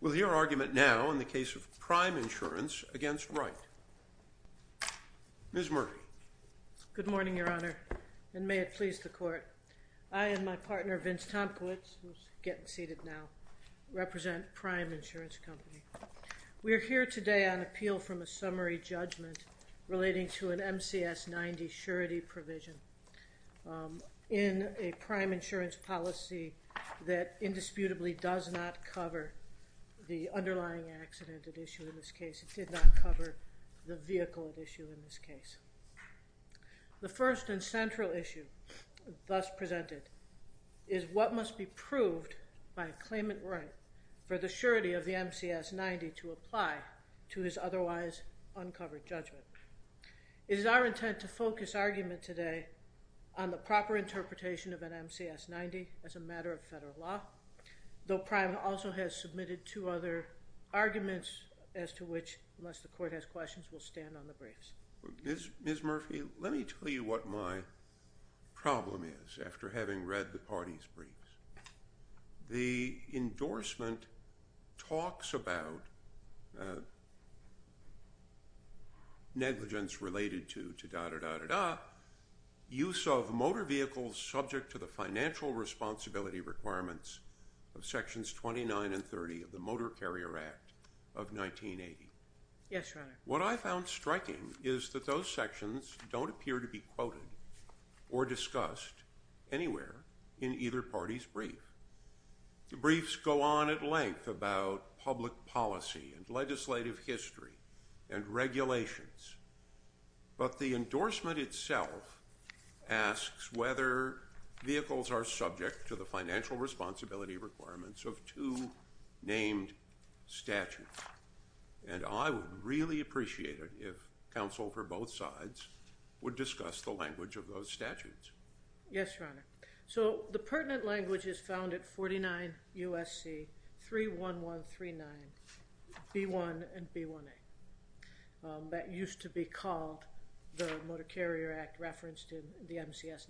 We'll hear argument now in the case of Prime Insurance v. Wright. Ms. Murphy. Good morning, Your Honor, and may it please the Court. I and my partner, Vince Tomkowitz, who's getting seated now, represent Prime Insurance Company. We're here today on appeal from a summary judgment relating to an MCS 90 surety provision in a prime insurance policy that indisputably does not cover the underlying accident at issue in this case. It did not cover the vehicle at issue in this case. The first and central issue thus presented is what must be proved by a claimant right for the surety of the MCS 90 to apply to his otherwise uncovered judgment. It is our intent to focus argument today on the proper interpretation of an MCS 90 as a matter of federal law, though Prime also has submitted two other arguments as to which, unless the Court has questions, we'll stand on the briefs. Ms. Murphy, let me tell you what my problem is after having read the party's briefs. The endorsement talks about negligence related to da, da, da, da, da, use of motor vehicles subject to the financial responsibility requirements of Sections 29 and 30 of the Motor Carrier Act of 1980. Yes, Your Honor. What I found striking is that those sections don't appear to be quoted or discussed anywhere in either party's brief. The briefs go on at length about public policy and legislative history and regulations, but the endorsement itself asks whether vehicles are subject to the financial responsibility requirements of two named statutes. And I would really appreciate it if counsel for both sides would discuss the language of those statutes. Yes, Your Honor. So the pertinent language is found at 49 USC 31139 B1 and B1A. That used to be called the Motor Carrier Act referenced in the MCS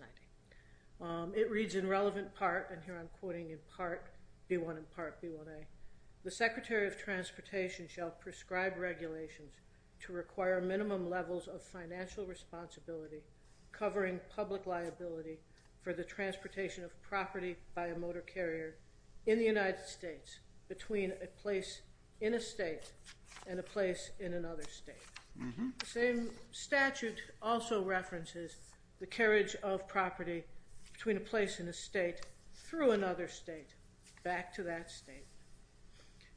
90. It reads in relevant part, and here I'm quoting in part B1 and part B1A, the Secretary of Transportation shall prescribe regulations to require minimum levels of financial responsibility covering public liability for the transportation of property by a motor carrier in the United States between a place in a state and a place in another state. The same statute also references the carriage of property between a place in a state through another state back to that state.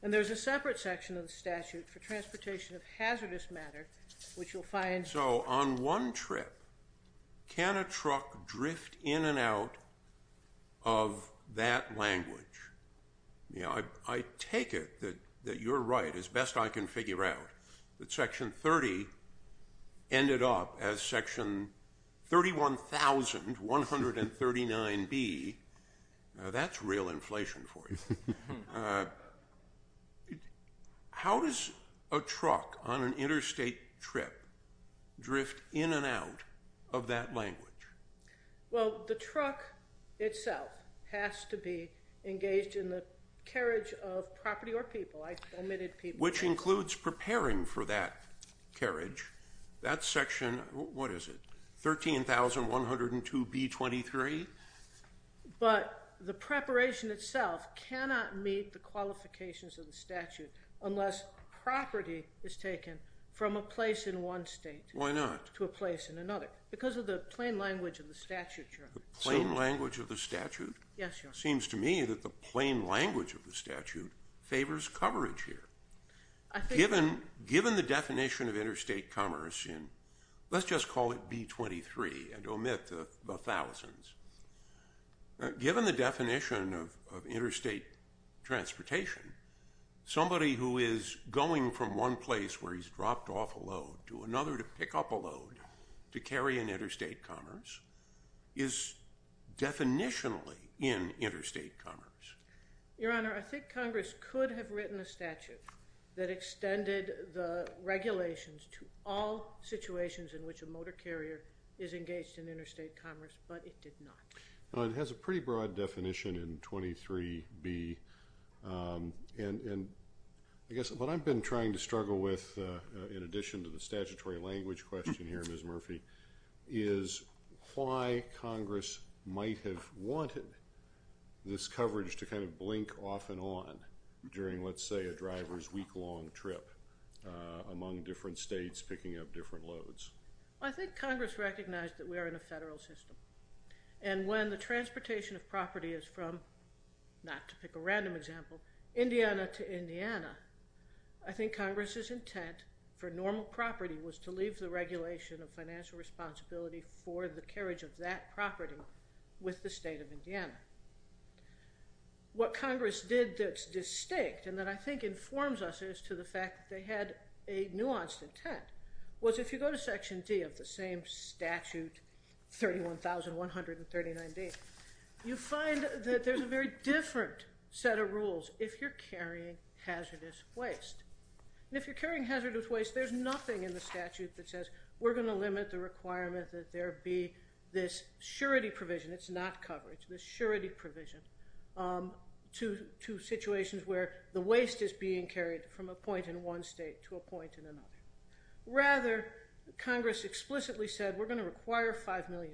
And there's a separate section of the statute for transportation of hazardous matter, which you'll find- So on one trip, can a truck drift in and out of that language? Yeah, I take it that you're right as best I can figure out that Section 30 ended up as Section 31,139B. Now that's real inflation for you. How does a truck on an interstate trip drift in and out of that language? Well, the truck itself has to be engaged in the carriage of property or people. I omitted people. Which includes preparing for that carriage. That section, what is it, 13,102B23? But the preparation itself cannot meet the qualifications of the statute unless property is taken from a place in one state- Why not? To a place in another? Because of the plain language of the statute, Your Honor. The plain language of the statute? Yes, Your Honor. Seems to me that the plain language of the statute favors coverage here. Given the definition of interstate commerce in, let's just call it B23 and omit the thousands. Given the definition of interstate transportation, somebody who is going from one place where he's dropped off a load to another to pick up a load to carry an interstate commerce is definitionally in interstate commerce. Your Honor, I think Congress could have written a statute that extended the regulations to all situations in which a motor carrier is engaged in interstate commerce, but it did not. It has a pretty broad definition in 23B and I guess what I've been trying to struggle with in addition to the statutory language question here, Ms. Murphy, is why Congress might have wanted this coverage to kind of blink off and on during, let's say, a driver's week-long trip among different states picking up different loads. I think Congress recognized that we are in a federal system and when the transportation of property is from, not to pick a random example, Indiana to Indiana, I think Congress's intent for normal property was to leave the regulation of financial responsibility for the carriage of that property with the state of Indiana. What Congress did that's distinct and that I think informs us as to the fact that they had a nuanced intent was if you go to Section D of the same statute, 31,139D, you find that there's a very different set of rules if you're carrying hazardous waste. If you're carrying hazardous waste, there's nothing in the statute that says we're going to limit the requirement that there be this surety provision, it's not coverage, this surety provision to situations where the waste is being carried from a point in one state to a point in another. Rather, Congress explicitly said we're going to require $5 million,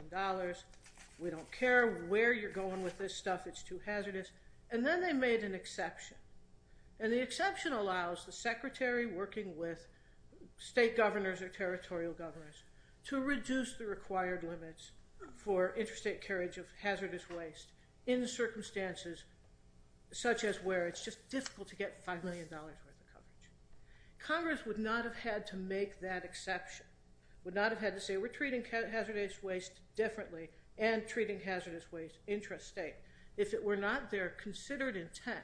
we don't care where you're going with this stuff, it's too hazardous, and then they made an exception. And the exception allows the secretary working with state governors or territorial governors to reduce the required limits for interstate carriage of hazardous waste in circumstances such as where it's just difficult to get $5 million worth of coverage. Congress would not have had to make that exception, would not have had to say we're treating hazardous waste differently and treating hazardous waste intrastate. If it were not their considered intent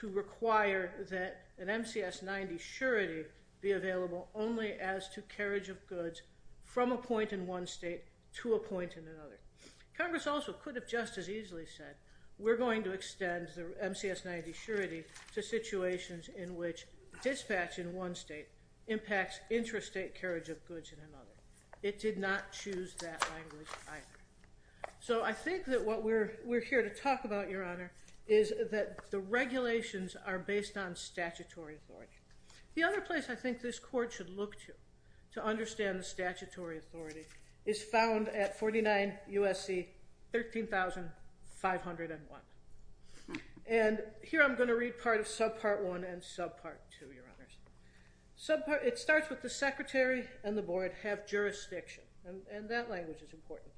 to require that an MCS 90 surety be available only as to carriage of goods from a point in one state to a point in another. Congress also could have just as easily said we're going to extend the MCS 90 surety to situations in which dispatch in one state impacts intrastate carriage of goods in another. It did not choose that language either. So I think that what we're here to talk about, Your Honor, is that the regulations are based on statutory authority. The other place I think this court should look to to understand the statutory authority is found at 49 USC 13501. And here I'm going to read part of subpart one and subpart two, Your Honors. It starts with the secretary and the board have jurisdiction, and that language is important,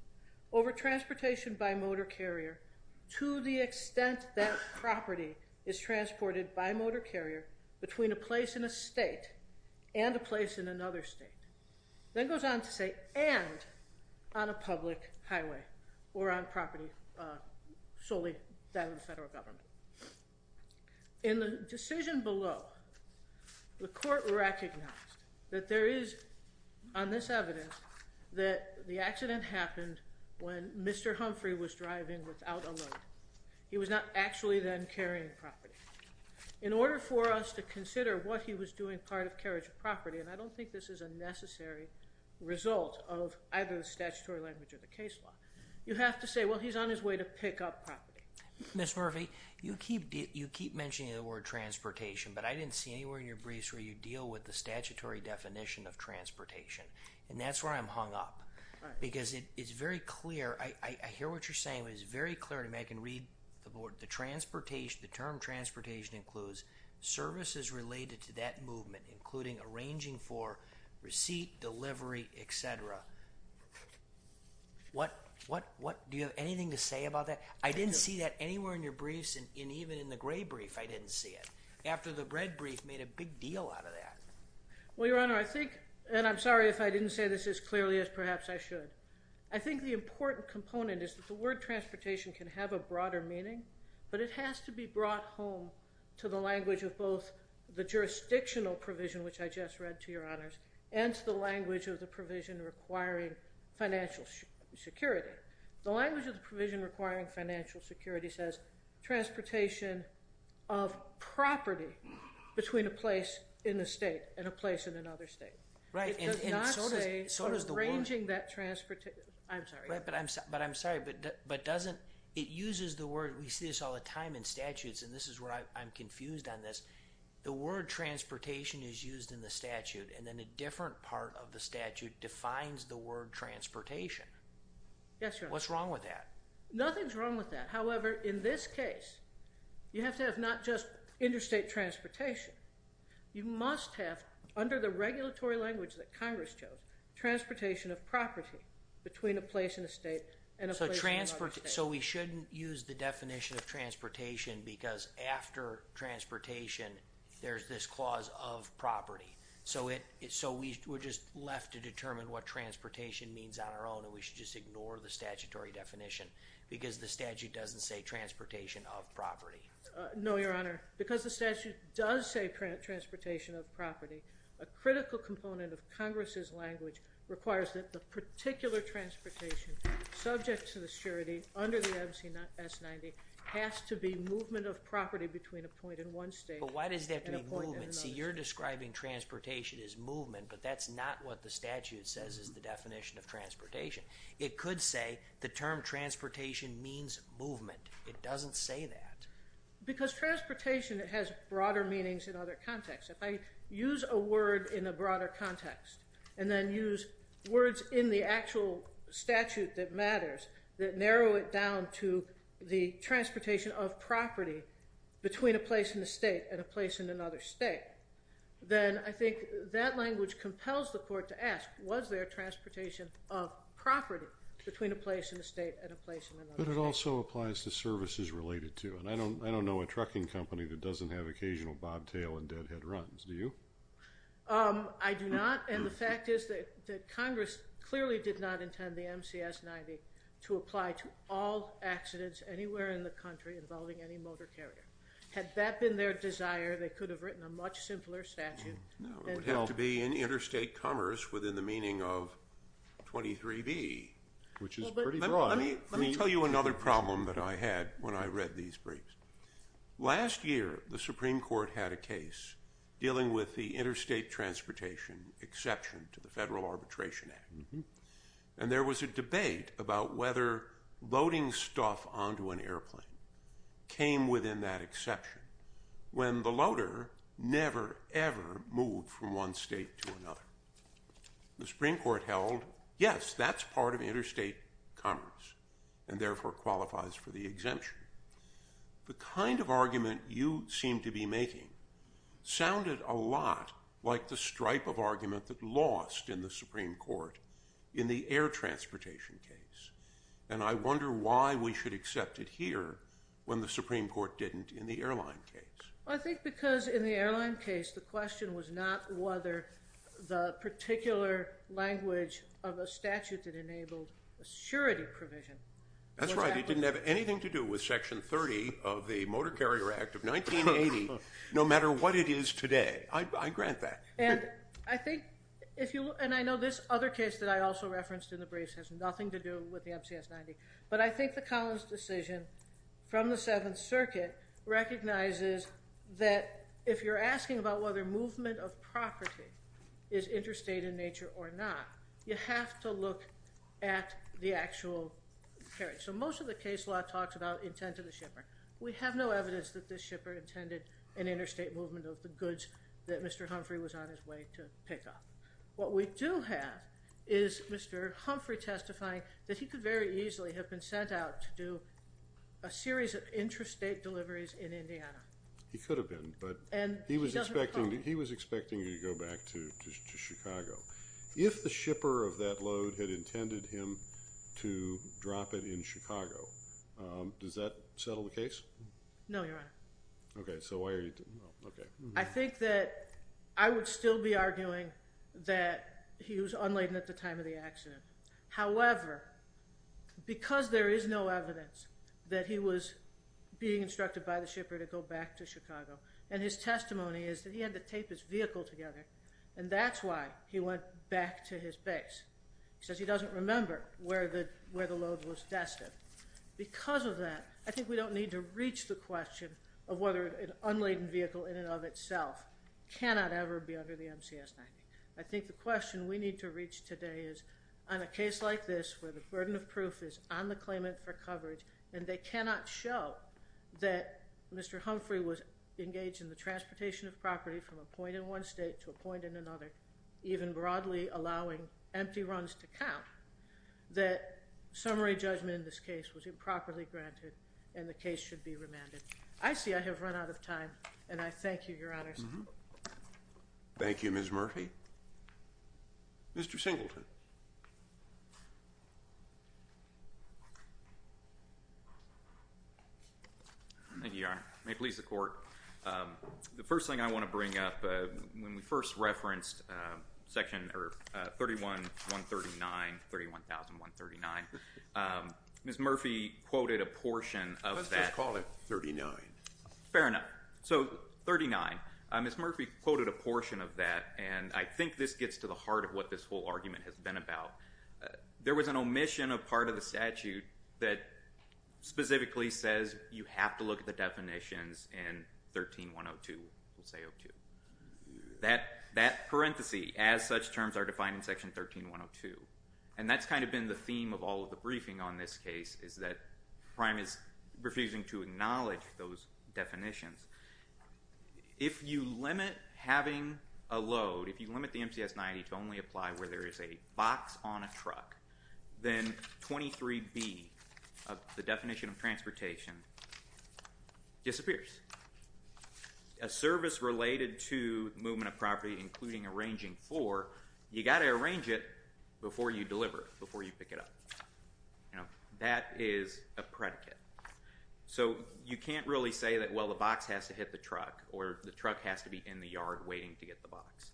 over transportation by motor carrier to the extent that property is transported by motor carrier between a place in a state and a place in another state. Then goes on to say and on a public highway or on property solely that of the federal government. In the decision below, the court recognized that there is on this evidence that the accident happened when Mr. Humphrey was driving without a load. He was not actually then carrying property. In order for us to consider what he was doing part of carriage of property, and I don't think this is a necessary result of either the statutory language or the case law. You have to say, well, he's on his way to pick up property. Ms. Murphy, you keep mentioning the word transportation, but I didn't see anywhere in your briefs where you deal with the statutory definition of transportation. And that's where I'm hung up. Because it's very clear. I hear what you're saying. It's very clear to me. I can read the board. The term transportation includes services related to that movement, including arranging for receipt, delivery, et cetera. Do you have anything to say about that? I didn't see that anywhere in your briefs, and even in the gray brief, I didn't see it. After the red brief made a big deal out of that. Well, Your Honor, I think, and I'm sorry if I didn't say this as clearly as perhaps I should. I think the important component is that the word transportation can have a broader meaning, but it has to be brought home to the language of both the jurisdictional provision, which I just read to Your Honors, and to the language of the provision requiring financial security. The language of the provision requiring financial security says transportation of property between a place in the state and a place in another state. Right, and so does the word. It does not say arranging that transportation. I'm sorry. But I'm sorry, but doesn't, it uses the word, we see this all the time in statutes, and this is where I'm confused on this. The word transportation is used in the statute, and then a different part of the statute defines the word transportation. Yes, Your Honor. What's wrong with that? Nothing's wrong with that. However, in this case, you have to have not just interstate transportation. You must have, under the regulatory language that Congress chose, transportation of property between a place in a state and a place in another state. So we shouldn't use the definition of transportation because after transportation, there's this clause of property. So we're just left to determine what transportation means on our own, and we should just ignore the statutory definition because the statute doesn't say transportation of property. No, Your Honor. Because the statute does say transportation of property, a critical component of Congress's language requires that the particular transportation subject to the surety under the M.C.S. 90 has to be movement of property between a point in one state and a point in another state. See, you're describing transportation as movement, but that's not what the statute says is the definition of transportation. It could say the term transportation means movement. It doesn't say that. Because transportation has broader meanings in other contexts. If I use a word in a broader context and then use words in the actual statute that matters that narrow it down to the transportation of property between a place in a state and a place in another state, then I think that language compels the court to ask, was there transportation of property between a place in a state and a place in another state? But it also applies to services related to. And I don't know a trucking company that doesn't have occasional bobtail and deadhead runs. Do you? I do not. And the fact is that Congress clearly did not intend the M.C.S. 90 to apply to all accidents anywhere in the country involving any motor carrier. Had that been their desire, they could have written a much simpler statute. No, it would have to be in interstate commerce within the meaning of 23B, which is pretty broad. Let me tell you another problem that I had when I read these briefs. Last year, the Supreme Court had a case dealing with the Interstate Transportation Exception to the Federal Arbitration Act. And there was a debate about whether loading stuff onto an airplane came within that exception when the loader never, ever moved from one state to another. The Supreme Court held, yes, that's part of interstate commerce and therefore qualifies for the exemption. The kind of argument you seem to be making sounded a lot like the stripe of argument that lost in the Supreme Court in the air transportation case. And I wonder why we should accept it here when the Supreme Court didn't in the airline case. I think because in the airline case, the question was not whether the particular language of a statute that enabled assurity provision. That's right. It didn't have anything to do with Section 30 of the Motor Carrier Act of 1980, no matter what it is today. I grant that. And I think if you and I know this other case that I also referenced in the briefs has nothing to do with the M.C.S. 90. But I think the Collins decision from the Seventh Circuit recognizes that if you're asking about whether movement of property is interstate in nature or not, you have to look at the actual carriage. So most of the case law talks about intent of the shipper. We have no evidence that this shipper intended an interstate movement of the goods that Mr. Humphrey was on his way to pick up. What we do have is Mr. Humphrey testifying that he could very easily have been sent out to do a series of interstate deliveries in Indiana. He could have been, but he was expecting to go back to Chicago. If the shipper of that load had intended him to drop it in Chicago, does that settle the case? No, Your Honor. Okay, so why are you? I think that I would still be arguing that he was unladen at the time of the accident. However, because there is no evidence that he was being instructed by the shipper to go back to Chicago, and his testimony is that he had to tape his vehicle together, and that's why he went back to his base. He says he doesn't remember where the load was destined. Because of that, I think we don't need to reach the question of whether an unladen vehicle in and of itself cannot ever be under the MCS 90. I think the question we need to reach today is on a case like this where the burden of proof is on the claimant for coverage, and they cannot show that Mr. Humphrey was engaged in the transportation of property from a point in one state to a point in another, even broadly allowing empty runs to count, that summary judgment in this case was improperly granted and the case should be remanded. I see I have run out of time, and I thank you, Your Honors. Thank you, Ms. Murphy. Mr. Singleton. Thank you, Your Honor. May it please the Court. The first thing I want to bring up, when we first referenced section 31-139, 31,139, Ms. Murphy quoted a portion of that. Let's just call it 39. Fair enough. So 39. Ms. Murphy quoted a portion of that, and I think this gets to the heart of what this whole argument has been about. There was an omission of part of the statute that specifically says you have to look at the definitions in 13-102, we'll say 02. That parenthesis, as such terms are defined in section 13-102, and that's kind of been the theme of all of the briefing on this case, is that Prime is refusing to acknowledge those definitions. If you limit having a load, if you limit the MCS 90 to only apply where there is a box on a truck, then 23B, the definition of transportation, disappears. A service related to movement of property, including arranging for, you've got to arrange it before you deliver, before you pick it up. That is a predicate. So you can't really say that, well, the box has to hit the truck, or the truck has to be in the yard waiting to get the box.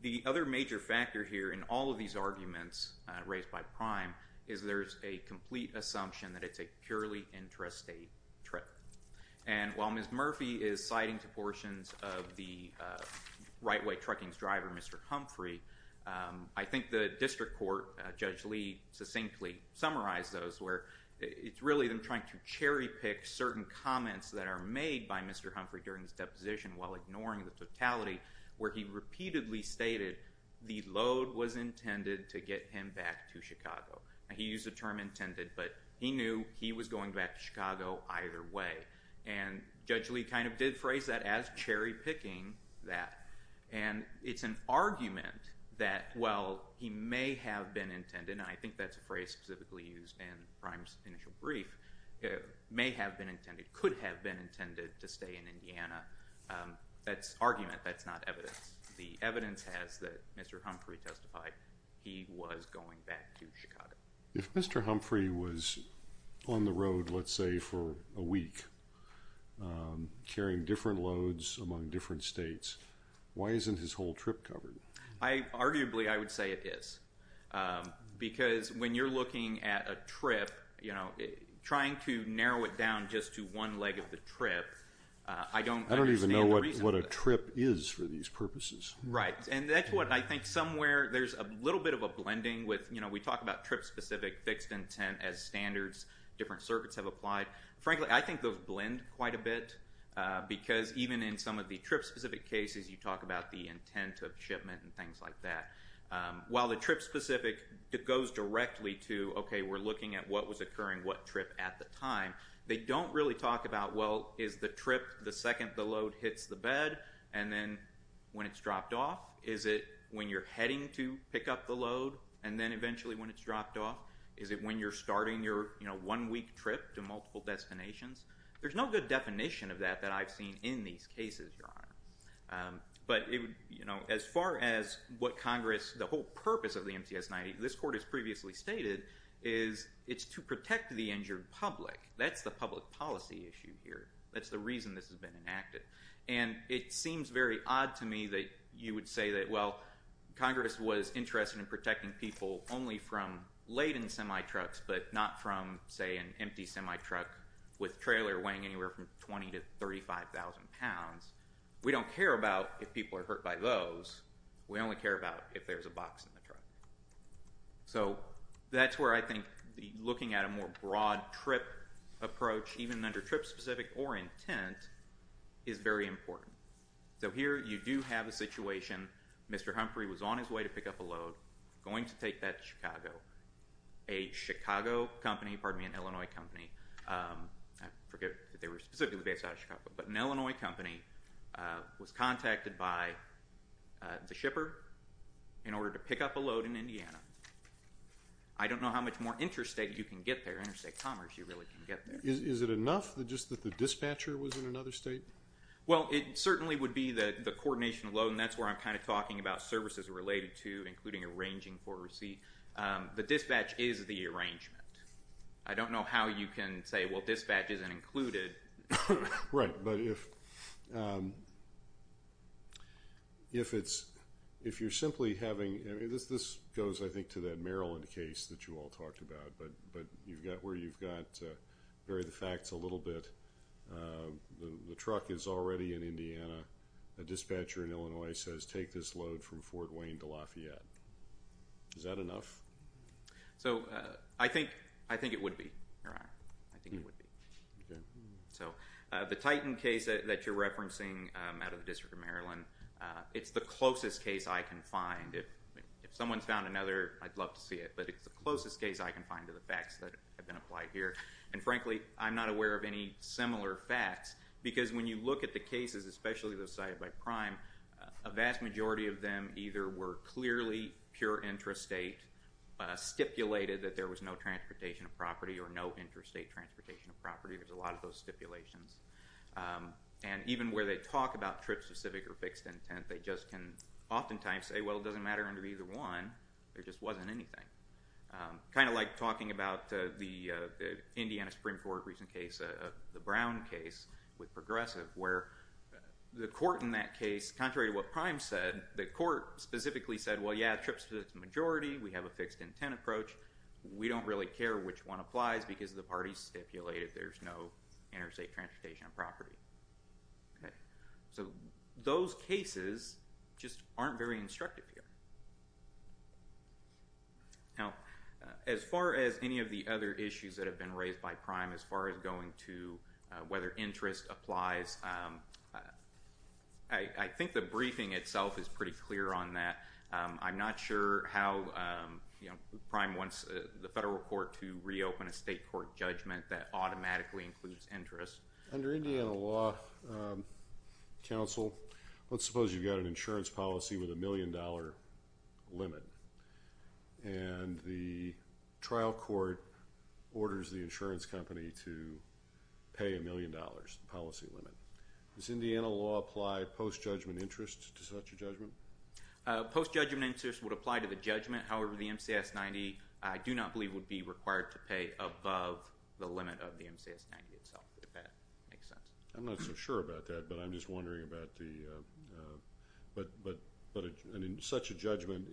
The other major factor here in all of these arguments raised by Prime is there's a complete assumption that it's a purely intrastate trip. While Ms. Murphy is citing to portions of the right-way trucking's driver, Mr. Humphrey, I think the district court, Judge Lee, succinctly summarized those, where it's really them trying to cherry-pick certain comments that are made by Mr. Humphrey during his deposition while ignoring the totality, where he repeatedly stated the load was intended to get him back to Chicago. He used the term intended, but he knew he was going back to Chicago either way. And Judge Lee kind of did phrase that as cherry-picking that. And it's an argument that, well, he may have been intended, and I think that's a phrase specifically used in Prime's initial brief, may have been intended, could have been intended to stay in Indiana. That's argument, that's not evidence. The evidence has that Mr. Humphrey testified he was going back to Chicago. If Mr. Humphrey was on the road, let's say, for a week carrying different loads among different states, why isn't his whole trip covered? Arguably, I would say it is because when you're looking at a trip, trying to narrow it down just to one leg of the trip, I don't understand the reason. Right, and that's what I think somewhere there's a little bit of a blending. We talk about trip-specific fixed intent as standards, different circuits have applied. Frankly, I think those blend quite a bit because even in some of the trip-specific cases, you talk about the intent of shipment and things like that. While the trip-specific goes directly to, okay, we're looking at what was occurring what trip at the time, they don't really talk about, well, is the trip the second the load hits the bed and then when it's dropped off? Is it when you're heading to pick up the load and then eventually when it's dropped off? Is it when you're starting your one-week trip to multiple destinations? There's no good definition of that that I've seen in these cases, Your Honor. But as far as what Congress, the whole purpose of the MTS 90, this Court has previously stated, is it's to protect the injured public. That's the public policy issue here. That's the reason this has been enacted. And it seems very odd to me that you would say that, well, Congress was interested in protecting people only from laden semi-trucks but not from, say, an empty semi-truck with trailer weighing anywhere from 20,000 to 35,000 pounds. We don't care about if people are hurt by those. We only care about if there's a box in the truck. So that's where I think looking at a more broad trip approach, even under trip-specific or intent, is very important. So here you do have a situation. Mr. Humphrey was on his way to pick up a load, going to take that to Chicago. A Chicago company, pardon me, an Illinois company. I forget if they were specifically based out of Chicago. But an Illinois company was contacted by the shipper in order to pick up a load in Indiana. I don't know how much more interstate you can get there, interstate commerce you really can get there. Is it enough just that the dispatcher was in another state? Well, it certainly would be the coordination load, and that's where I'm kind of talking about services related to, including arranging for a receipt. The dispatch is the arrangement. I don't know how you can say, well, dispatch isn't included. Right, but if you're simply having – this goes, I think, to that Maryland case that you all talked about, but where you've got to vary the facts a little bit. The truck is already in Indiana. A dispatcher in Illinois says, take this load from Fort Wayne to Lafayette. Is that enough? So I think it would be, Your Honor. I think it would be. So the Titan case that you're referencing out of the District of Maryland, it's the closest case I can find. If someone's found another, I'd love to see it, but it's the closest case I can find to the facts that have been applied here. And frankly, I'm not aware of any similar facts because when you look at the cases, especially those cited by prime, a vast majority of them either were clearly pure intrastate, stipulated that there was no transportation of property or no intrastate transportation of property. There's a lot of those stipulations. And even where they talk about trips to civic or fixed intent, they just can oftentimes say, well, it doesn't matter under either one. There just wasn't anything. Kind of like talking about the Indiana Supreme Court recent case, the Brown case with Progressive, where the court in that case, contrary to what prime said, the court specifically said, well, yeah, trips to the majority. We have a fixed intent approach. We don't really care which one applies because the parties stipulated there's no intrastate transportation of property. So those cases just aren't very instructive here. Now, as far as any of the other issues that have been raised by prime, as far as going to whether interest applies, I think the briefing itself is pretty clear on that. I'm not sure how prime wants the federal court to reopen a state court judgment that automatically includes interest. Under Indiana law, counsel, let's suppose you've got an insurance policy with a million-dollar limit, and the trial court orders the insurance company to pay a million dollars policy limit. Does Indiana law apply post-judgment interest to such a judgment? Post-judgment interest would apply to the judgment. However, the MCS-90, I do not believe, would be required to pay above the limit of the MCS-90 itself, if that makes sense. I'm not so sure about that, but I'm just wondering about the ‑‑ but such a judgment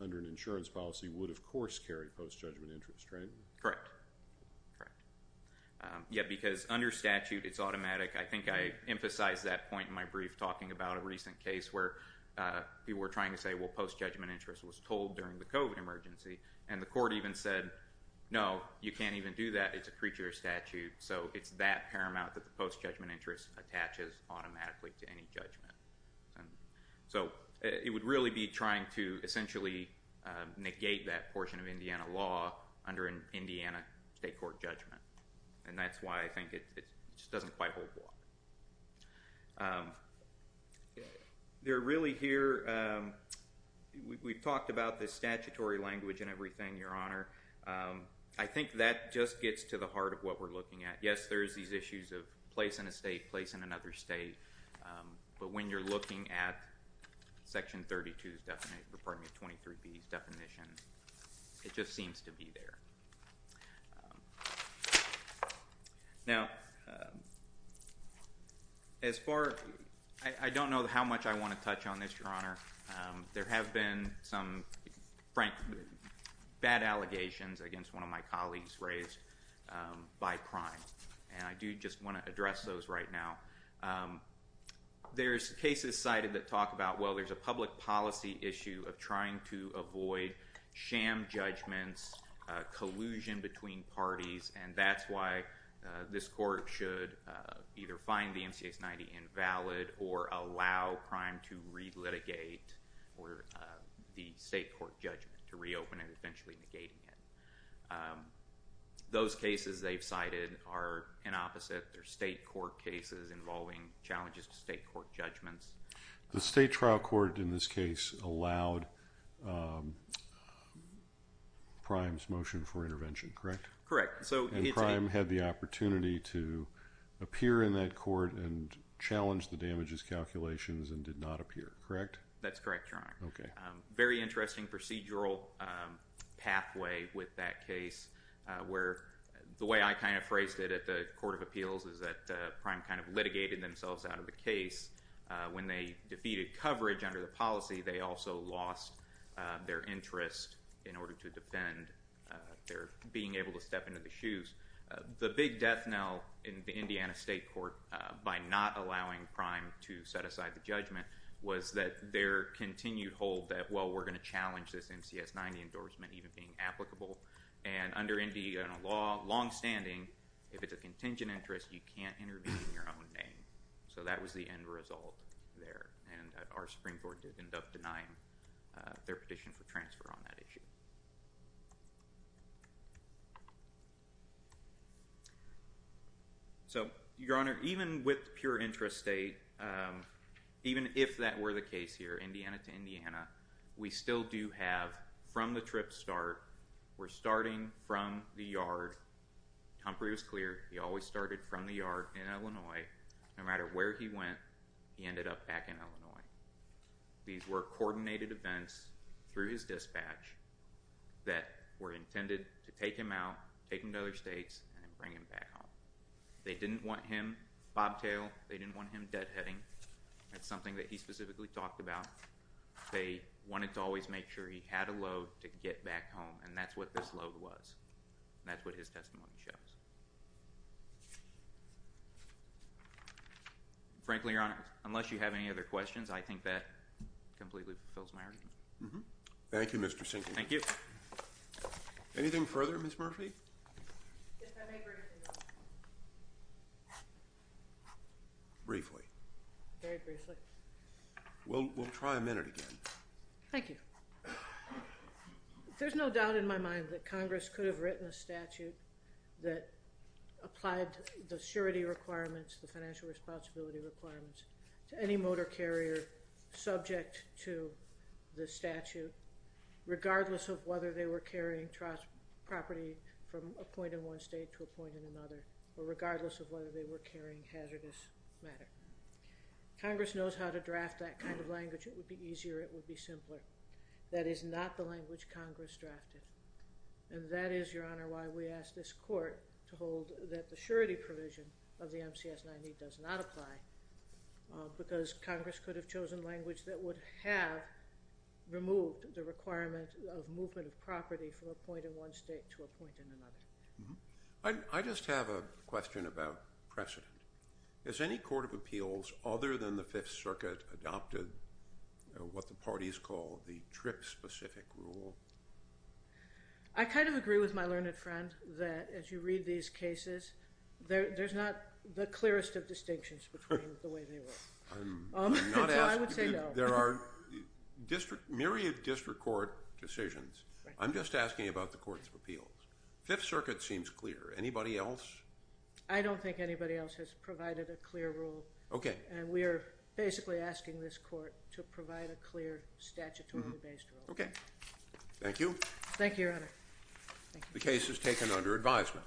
under an insurance policy would, of course, carry post-judgment interest, right? Correct. Correct. I think I emphasized that point in my brief, talking about a recent case where people were trying to say, well, post-judgment interest was told during the COVID emergency, and the court even said, no, you can't even do that. It's a creature statute, so it's that paramount that the post-judgment interest attaches automatically to any judgment. So it would really be trying to essentially negate that portion of Indiana law under an Indiana state court judgment, and that's why I think it just doesn't quite hold water. They're really here. We've talked about this statutory language and everything, Your Honor. I think that just gets to the heart of what we're looking at. Yes, there is these issues of place in a state, place in another state, but when you're looking at Section 32's definition, pardon me, 23B's definition, it just seems to be there. Now, as far ‑‑ I don't know how much I want to touch on this, Your Honor. There have been some, frankly, bad allegations against one of my colleagues raised by crime, and I do just want to address those right now. There's cases cited that talk about, well, there's a public policy issue of trying to avoid sham judgments, collusion between parties, and that's why this court should either find the MCX 90 invalid or allow crime to relitigate the state court judgment to reopen it, eventually negating it. Those cases they've cited are an opposite. They're state court cases involving challenges to state court judgments. The state trial court in this case allowed Prime's motion for intervention, correct? Correct. And Prime had the opportunity to appear in that court and challenge the damages calculations and did not appear, correct? That's correct, Your Honor. Okay. There's a very interesting procedural pathway with that case where the way I kind of phrased it at the Court of Appeals is that Prime kind of litigated themselves out of the case. When they defeated coverage under the policy, they also lost their interest in order to defend their being able to step into the shoes. The big death knell in the Indiana State Court by not allowing Prime to set aside the judgment was that their continued hold that, well, we're going to challenge this MCX 90 endorsement even being applicable. And under Indiana law, longstanding, if it's a contingent interest, you can't intervene in your own name. So that was the end result there. And our Supreme Court did end up denying their petition for transfer on that issue. So, Your Honor, even with pure interest state, even if that were the case here, Indiana to Indiana, we still do have from the trip start, we're starting from the yard. Humphrey was clear. He always started from the yard in Illinois. No matter where he went, he ended up back in Illinois. These were coordinated events through his dispatch that were intended to take him out, take him to other states, and bring him back home. They didn't want him bobtailed. They didn't want him deadheading. That's something that he specifically talked about. They wanted to always make sure he had a load to get back home, and that's what this load was. That's what his testimony shows. Frankly, Your Honor, unless you have any other questions, I think that completely fulfills my argument. Thank you, Mr. Sinclair. Thank you. Anything further, Ms. Murphy? If I may briefly, Your Honor. Briefly. Very briefly. We'll try a minute again. Thank you. There's no doubt in my mind that Congress could have written a statute that applied the surety requirements, the financial responsibility requirements to any motor carrier subject to the statute, regardless of whether they were carrying property from a point in one state to a point in another, or regardless of whether they were carrying hazardous matter. Congress knows how to draft that kind of language. It would be easier. It would be simpler. That is not the language Congress drafted, and that is, Your Honor, why we ask this court to hold that the surety provision of the MCS-90 does not apply, because Congress could have chosen language that would have removed the requirement of movement of property from a point in one state to a point in another. I just have a question about precedent. Has any court of appeals, other than the Fifth Circuit, adopted what the parties call the DRIP-specific rule? I kind of agree with my learned friend that, as you read these cases, there's not the clearest of distinctions between the way they were. I'm not asking you. So I would say no. There are myriad district court decisions. I'm just asking about the courts of appeals. Fifth Circuit seems clear. Anybody else? I don't think anybody else has provided a clear rule. Okay. And we are basically asking this court to provide a clear statutorily based rule. Okay. Thank you. Thank you, Your Honor. The case is taken under advisement.